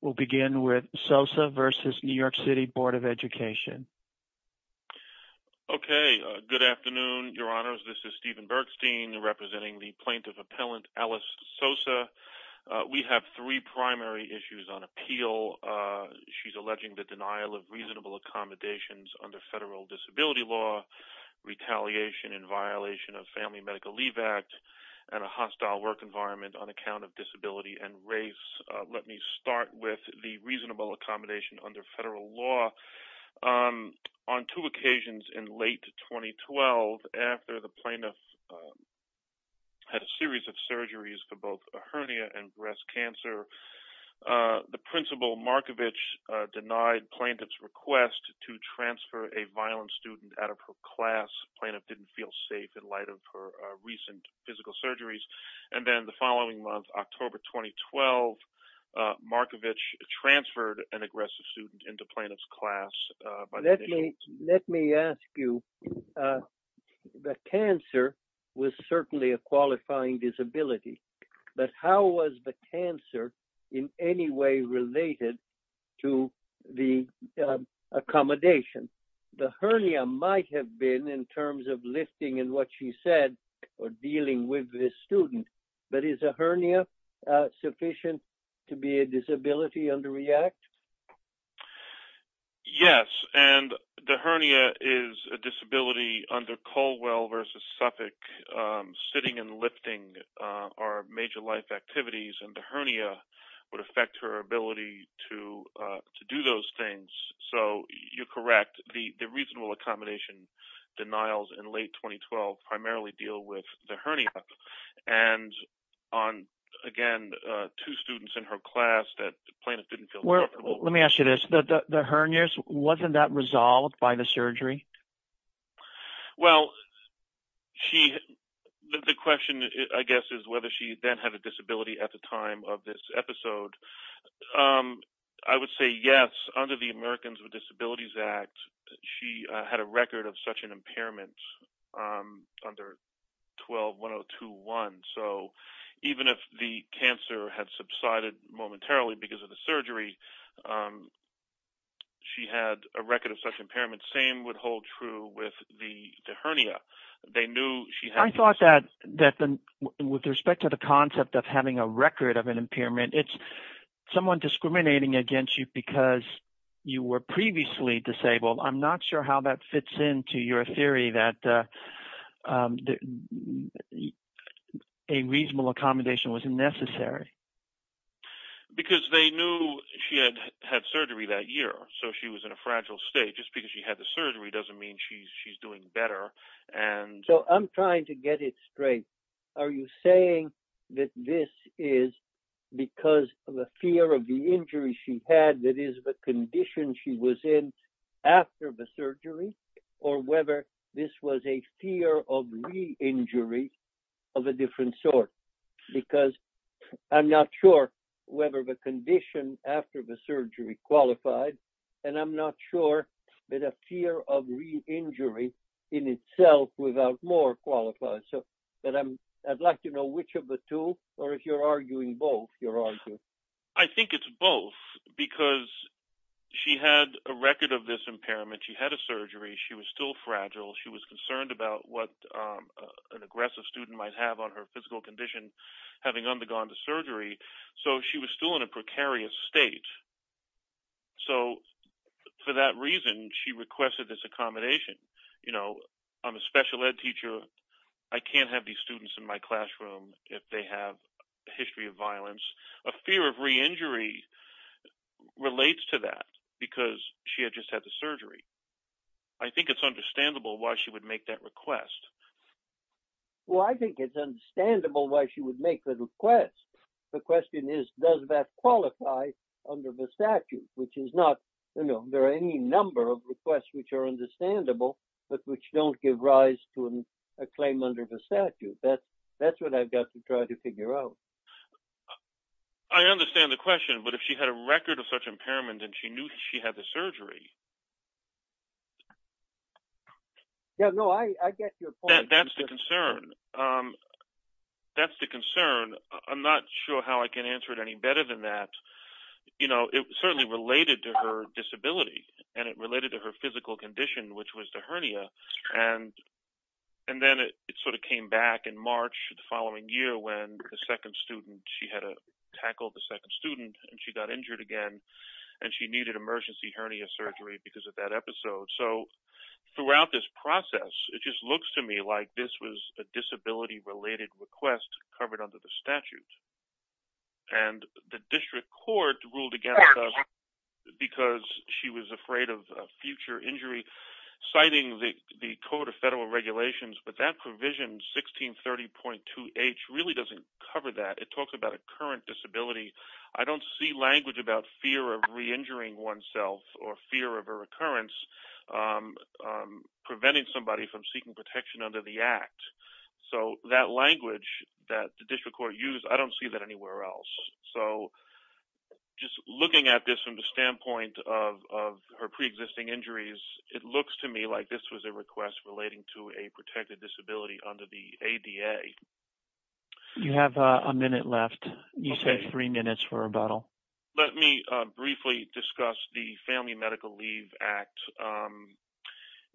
We'll begin with Sosa v. New York City Board of Education. Okay, good afternoon, your honors. This is Stephen Bergstein representing the plaintiff appellant Alice Sosa. We have three primary issues on appeal. She's alleging the denial of reasonable accommodations under federal disability law, retaliation in violation of Family Medical Leave Act, and a hostile work environment on account of disability and race. Let me start with the reasonable accommodation under federal law. On two occasions in late 2012, after the plaintiff had a series of surgeries for both hernia and breast cancer, the principal Markovich denied plaintiff's request to transfer a violent student out of her class. Plaintiff didn't feel safe in light of her recent physical surgeries. And then the following month, October 2012, Markovich transferred an aggressive student into plaintiff's class. Let me ask you, the cancer was certainly a qualifying disability, but how was the cancer in any way related to the accommodation? The hernia might have been in terms of lifting and what she said or dealing with this student, but is a hernia sufficient to be a disability under REACT? Yes, and the hernia is a disability under Colwell v. Suffolk. Sitting and lifting are major life activities and the hernia would affect her ability to do those things. So you're correct, the reasonable accommodation denials in late 2012 primarily deal with the hernia and on, again, two students in her class that plaintiff didn't feel comfortable. Let me ask you this, the hernias, wasn't that resolved by the surgery? Well, the question I guess is whether she then had a disability at the time of this episode. I would say yes, under the Americans with Disabilities Act, she had a record of such an impairment under 12-1021. So even if the cancer had subsided momentarily because of the surgery, she had a record of such impairments, same would hold true with the hernia. I thought that with respect to the concept of having a record of an impairment, it's somewhat discriminating against you because you were previously disabled. I'm not sure how that fits into your theory that a reasonable accommodation was necessary. Because they knew she had had surgery that year, so she was in a fragile state. Just because she had the surgery doesn't mean she's doing better. So I'm trying to get it straight. Are you saying that this is because of a fear of the injury she had that is the condition she was in after the surgery, or whether this was a fear of re-injury of a different sort? Because I'm not sure whether the condition after the surgery qualified, and I'm not sure that a fear of re-injury in itself without more qualified. So I'd like to know which of the two, or if you're arguing both. I think it's both because she had a record of this impairment. She had a surgery. She was still fragile. She was concerned about what an aggressive student might have on her physical condition having undergone the surgery. So she was still in a precarious state. So for that reason, she requested this accommodation. You know, I'm a special ed teacher. I can't have these students in my classroom if they have a history of violence. A fear of re-injury relates to that because she had just had the surgery. I think it's understandable why she would make that request. Well, I think it's understandable why she would make the request. The question is, does that qualify under the statute, which is not, you know, there are any number of requests which are understandable, but which don't give rise to a claim under the statute. That's what I've got to try to figure out. I understand the question, but if she had a record of such impairment and she knew she had the I'm not sure how I can answer it any better than that. You know, it certainly related to her disability and it related to her physical condition, which was the hernia. And then it sort of came back in March the following year when the second student, she had tackled the second student and she got injured again and she needed emergency hernia surgery because of that episode. So throughout this process, it just looks to me like this was a disability-related request covered under the statute. And the district court ruled against us because she was afraid of future injury, citing the code of federal regulations, but that provision 1630.2H really doesn't cover that. It talks about a current disability. I don't see language about fear of re-injuring oneself or fear of a recurrence preventing somebody from seeking protection under the act. So that language that the district court used, I don't see that anywhere else. So just looking at this from the standpoint of her preexisting injuries, it looks to me like this was a request relating to a protected disability under the ADA. You have a minute left. You said three minutes for rebuttal. Let me briefly discuss the Family Medical Leave Act.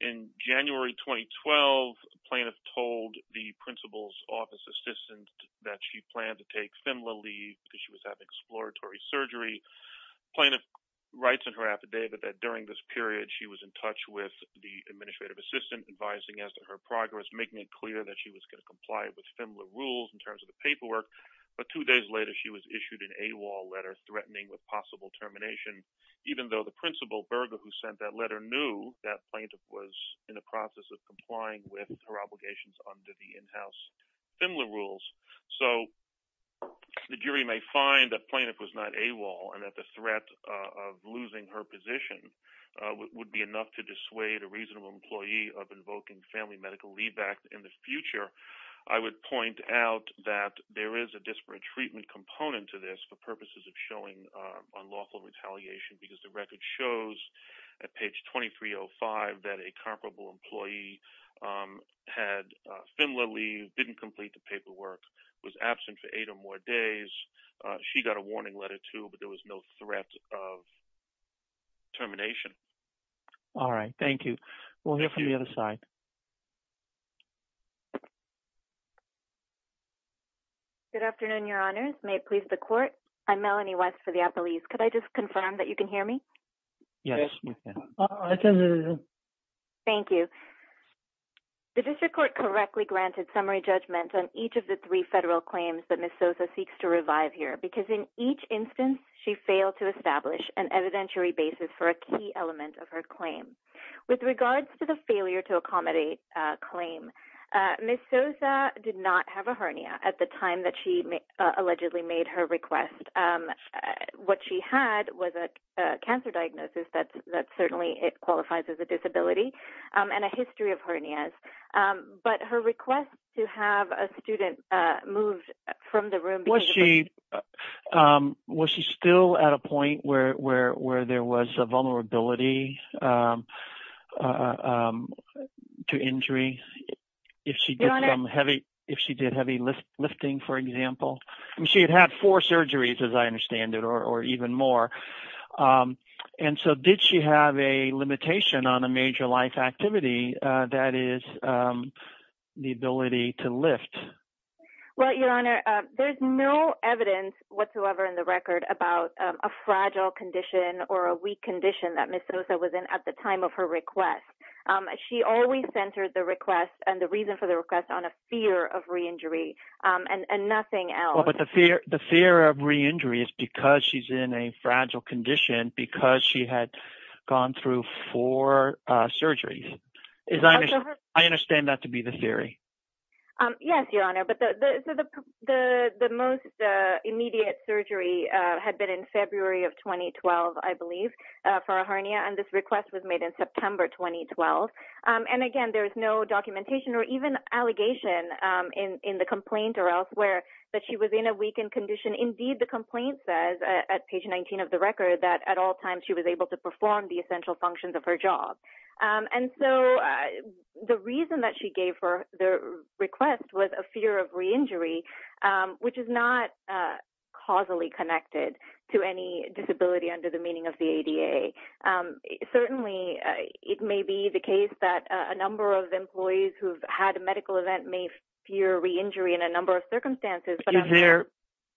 In January 2012, a plaintiff told the principal's office assistant that she planned to take FMLA leave because she was having exploratory surgery. The plaintiff writes in her affidavit that during this period, she was in touch with the administrative assistant advising as to her progress, making it clear that she was going to comply with FMLA rules in terms of the paperwork. But two days later, she was issued an AWOL letter threatening with possible termination, even though the principal, Berger, who sent that letter, knew that plaintiff was in the process of complying with her obligations under the in-house FMLA rules. So the jury may find that plaintiff was not AWOL and that the threat of losing her position would be enough to dissuade a reasonable employee of invoking Family Medical Leave Act in the future. I would point out that there is a disparate treatment component to this for purposes of showing unlawful retaliation because the record shows at page 2305 that a comparable employee had FMLA leave, didn't complete the paperwork, was absent for eight or more days. She got a warning letter, too, but there was no threat of termination. All right. Thank you. We'll move on. Thank you. The district court correctly granted summary judgment on each of the three federal claims that Ms. Sosa seeks to revive here because in each instance, she failed to establish an evidentiary basis for a key element of her claim. With regards to the failure to accommodate claim, Ms. Sosa did not have a hernia at the time that she allegedly made her request. What she had was a cancer diagnosis that certainly qualifies as a disability and a history of hernias. But her request to have a student moved from the room... Was she still at a point where there was a vulnerability to injury if she did heavy lifting, for example? She had had four surgeries, as I understand it, or even more. Did she have a limitation on a major life activity that is the ability to lift? Well, Your Honor, there's no evidence whatsoever in the record about a fragile condition or a weak condition that Ms. Sosa was in at the time of her request. She always centered the request and the reason for the request on a fear of reinjury and nothing else. But the fear of reinjury is because she's in a fragile condition because she had gone through four surgeries. I understand that to be the theory. Yes, Your Honor. But the most immediate surgery had been in February of 2012, I believe. For a hernia. And this request was made in September 2012. And again, there is no documentation or even allegation in the complaint or elsewhere that she was in a weakened condition. Indeed, the complaint says at page 19 of the record that at all times she was able to perform the essential functions of her job. And so the reason that she gave for the request was a fear of reinjury, which is not causally connected to any disability under the meaning of the ADA. Certainly, it may be the case that a number of employees who've had a medical event may fear reinjury in a number of circumstances.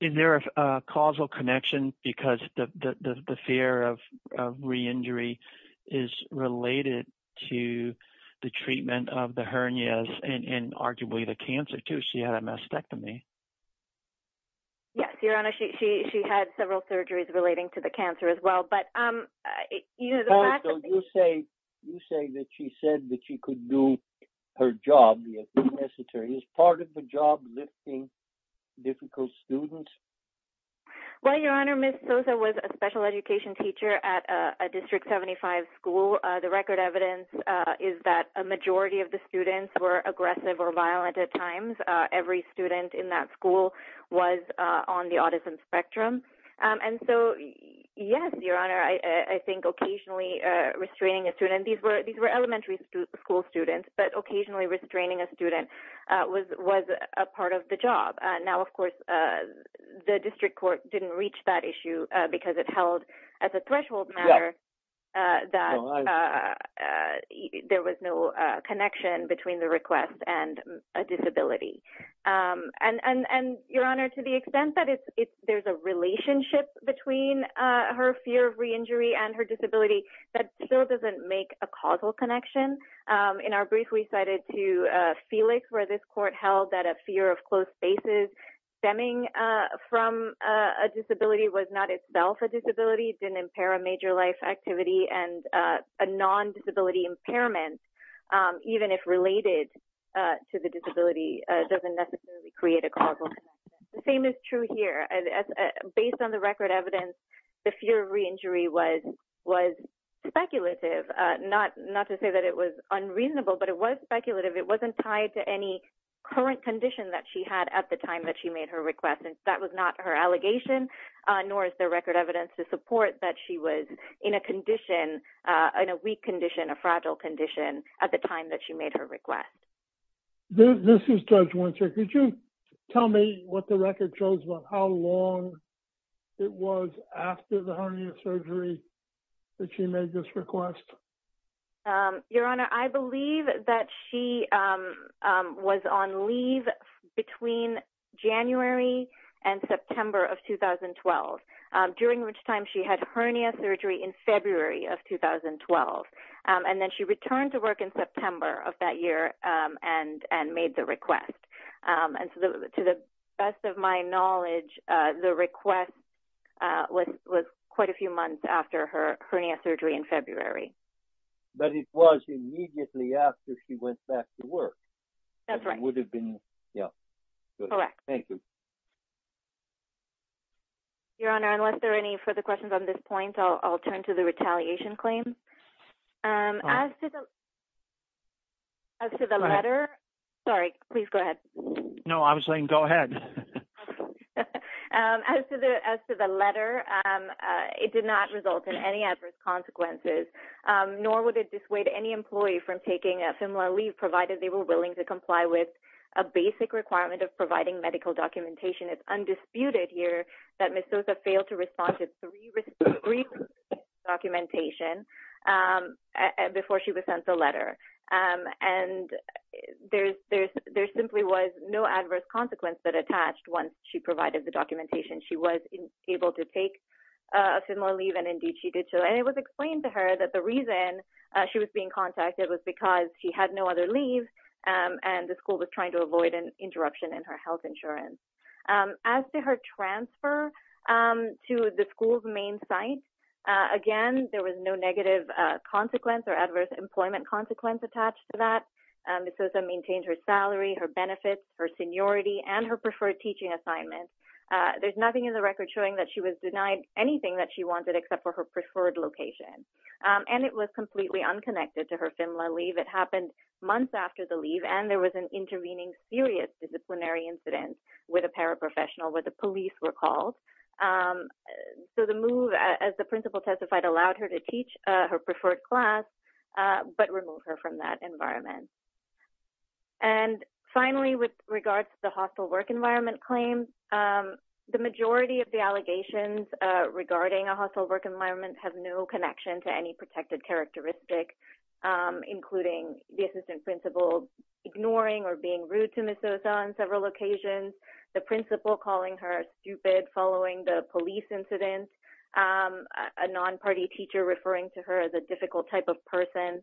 Is there a causal connection? Because the fear of reinjury is related to the treatment of the hernias and arguably the cancer, too. She had a mastectomy. Yes, Your Honor. She had several surgeries relating to the cancer as well. But you say that she said that she could do her job. Is part of the job lifting difficult students? Well, Your Honor, Ms. Sosa was a special education teacher at a District 75 school. The record evidence is that a majority of the students were aggressive or violent at times. Every student in that school was on the autism spectrum. And so, yes, Your Honor, I think occasionally restraining a student, these were elementary school students, but occasionally the District Court didn't reach that issue because it held as a threshold matter that there was no connection between the request and a disability. And Your Honor, to the extent that there's a relationship between her fear of reinjury and her disability, that still doesn't make a causal connection. In our brief, we cited to Felix where this court held that a fear of reinjury stemming from a disability was not itself a disability. It didn't impair a major life activity. And a non-disability impairment, even if related to the disability, doesn't necessarily create a causal connection. The same is true here. Based on the record evidence, the fear of reinjury was speculative. Not to say that it was unreasonable, but it was speculative. It wasn't tied to any current condition that she had at the time that she made her request. And that was not her allegation, nor is there record evidence to support that she was in a condition, in a weak condition, a fragile condition at the time that she made her request. This is Judge Winters. Could you tell me what the record shows about how long it was after the hernia surgery that she made this request? Your Honor, I believe that she was on leave between January and September of 2012, during which time she had hernia surgery in February of 2012. And then she returned to work in September of that year and made the request. And to the best of my knowledge, the request was quite a few months after her hernia surgery in February. But it was immediately after she went back to work. That's right. It would have been, yeah, correct. Thank you. Your Honor, unless there are any further questions on this point, I'll turn to the retaliation claim. As to the letter, sorry, please go ahead. No, I was saying go ahead. As to the letter, it did not result in any adverse consequences, nor would it dissuade any employee from taking a similar leave, provided they were willing to comply with a basic requirement of providing medical documentation. It's undisputed here that Ms. Sosa failed to respond to three receipts of documentation before she was sent the letter. And there simply was no adverse consequence that attached once she provided the documentation. She was able to take a similar leave, and indeed she did. And it was explained to her that the reason she was being contacted was because she had no other leave, and the school was trying to avoid an interruption in her health insurance. As to her transfer to the school's main site, again, there was no negative consequence or adverse employment consequence attached to that. Ms. Sosa maintained her salary, her benefits, her seniority, and her preferred teaching assignment. There's nothing in the record showing that she was denied anything that she wanted except for her preferred location. And it was completely unconnected to her FMLA leave. It happened months after the leave, and there was an intervening serious disciplinary incident with a paraprofessional where the police were called. So, the move, as the principal testified, allowed her to teach her preferred class but remove her from that environment. And finally, with regard to the hostile work environment claim, the majority of the allegations regarding a hostile work environment have no connection to any protected characteristic, including the assistant principal ignoring or being rude to Ms. Sosa on several occasions, the principal calling her stupid following the police incident, a non-party teacher referring to her as a difficult type of person.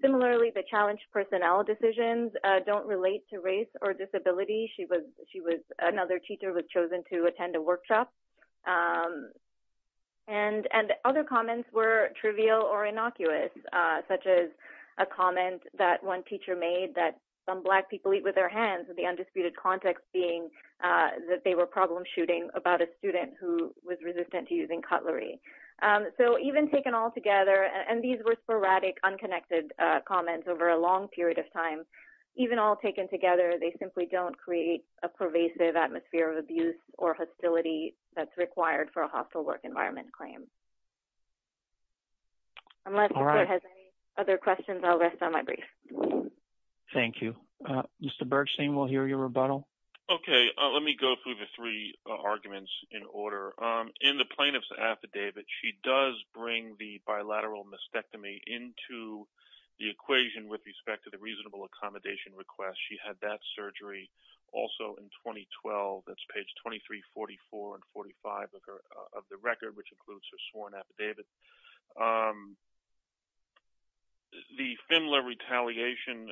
Similarly, the challenged personnel decisions don't relate to race or disability. Another teacher was chosen to attend a workshop. And other comments were such as a comment that one teacher made that some Black people eat with their hands, with the undisputed context being that they were problem shooting about a student who was resistant to using cutlery. So, even taken all together, and these were sporadic, unconnected comments over a long period of time, even all taken together, they simply don't create a pervasive atmosphere of abuse or hostility that's required for a hostile work environment claim. Unless the court has any other questions, I'll rest on my brief. Thank you. Mr. Bergstein, we'll hear your rebuttal. Okay. Let me go through the three arguments in order. In the plaintiff's affidavit, she does bring the bilateral mastectomy into the equation with respect to the reasonable accommodation request. She had that surgery also in 2012. That's page 2344 and 45 of the record, which includes her sworn affidavit. The Finla retaliation,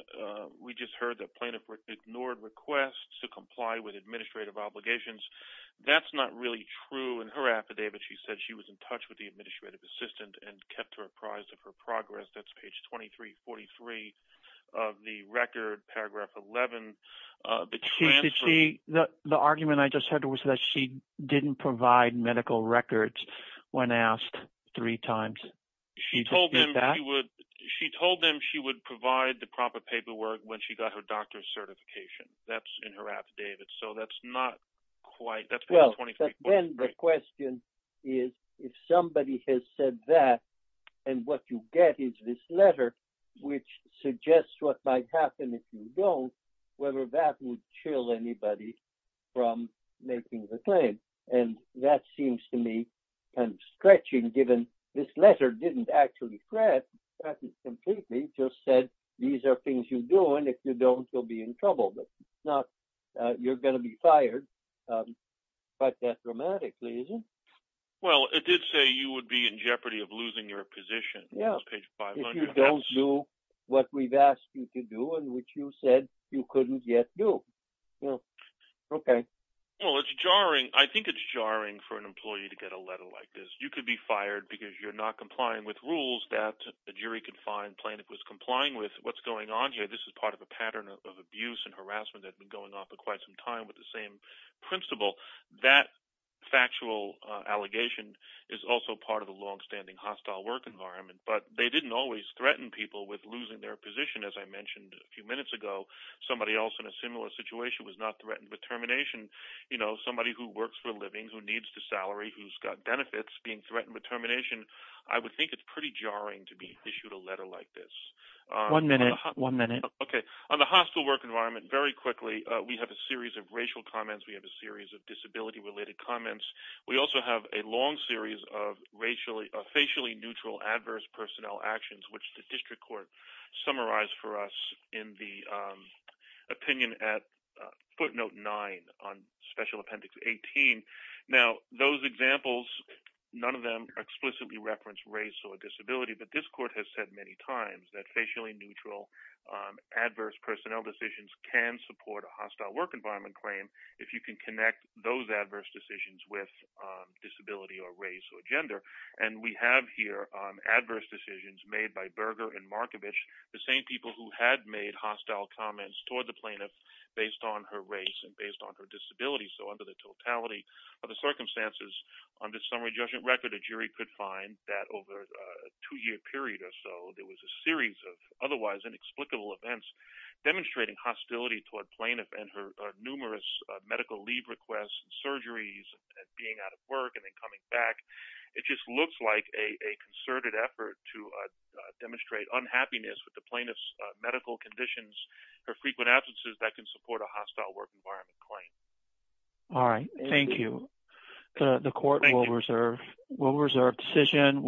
we just heard that plaintiff ignored requests to comply with administrative obligations. That's not really true in her affidavit. She said she was in touch with the administrative assistant and kept her apprised of her progress. That's page 2343 of the record, paragraph 11. The argument I just heard was that she didn't provide medical records when asked three times. She told them she would provide the proper paperwork when she got her doctor's certification. That's in her affidavit. That's page 2343. Then the question is, if somebody has said that, and what you get is this letter, which suggests what might happen if you don't, whether that would chill anybody from making the claim. That seems to me kind of stretching, given this letter didn't actually threaten completely. It just said, these are things you do, and if you don't, you'll be in trouble. It's not you're going to be fired, quite that dramatically, is it? Well, it did say you would be in jeopardy of losing your position. If you don't do what we've asked you to do, and which you said you couldn't yet do. Well, it's jarring. I think it's jarring for an employee to get a letter like this. You could be fired because you're not complying with rules that a jury-confined plaintiff was complying with. What's going on here? This is part of a pattern of abuse and harassment that's been going on for quite some time with the same principle. That factual allegation is also part of a longstanding hostile work environment, but they didn't always threaten people with losing their position. As I mentioned a few minutes ago, somebody else in a similar situation was not threatened with termination. Somebody who works for a living, who needs the salary, who's got benefits being threatened with termination. I would think it's pretty jarring to be issued a letter like this. One minute, one minute. Okay. On the hostile work environment, very quickly, we have a series of racial comments. We have a series of disability-related comments. We also have a long series of facially neutral adverse personnel actions, which the district court summarized for us in the opinion at footnote 9 on special appendix 18. Now, those examples, none of them explicitly reference race or disability, but this court has said many times that facially neutral adverse personnel decisions can support a hostile work environment claim if you can connect those adverse decisions with disability or race or gender. We have here adverse decisions made by Berger and Markovich, the same people who had made hostile comments toward the plaintiff based on her race and based on her disability. Under the totality of the circumstances, under summary judgment record, a jury could find that over a two-year period or so, there was a series of otherwise inexplicable events demonstrating hostility toward plaintiff and her numerous medical leave requests and surgeries and being out of work and then coming back. It just looks like a concerted effort to demonstrate unhappiness with the plaintiff's medical conditions, her frequent absences, that can support a hostile work environment claim. All right. Thank you. The court will reserve decision.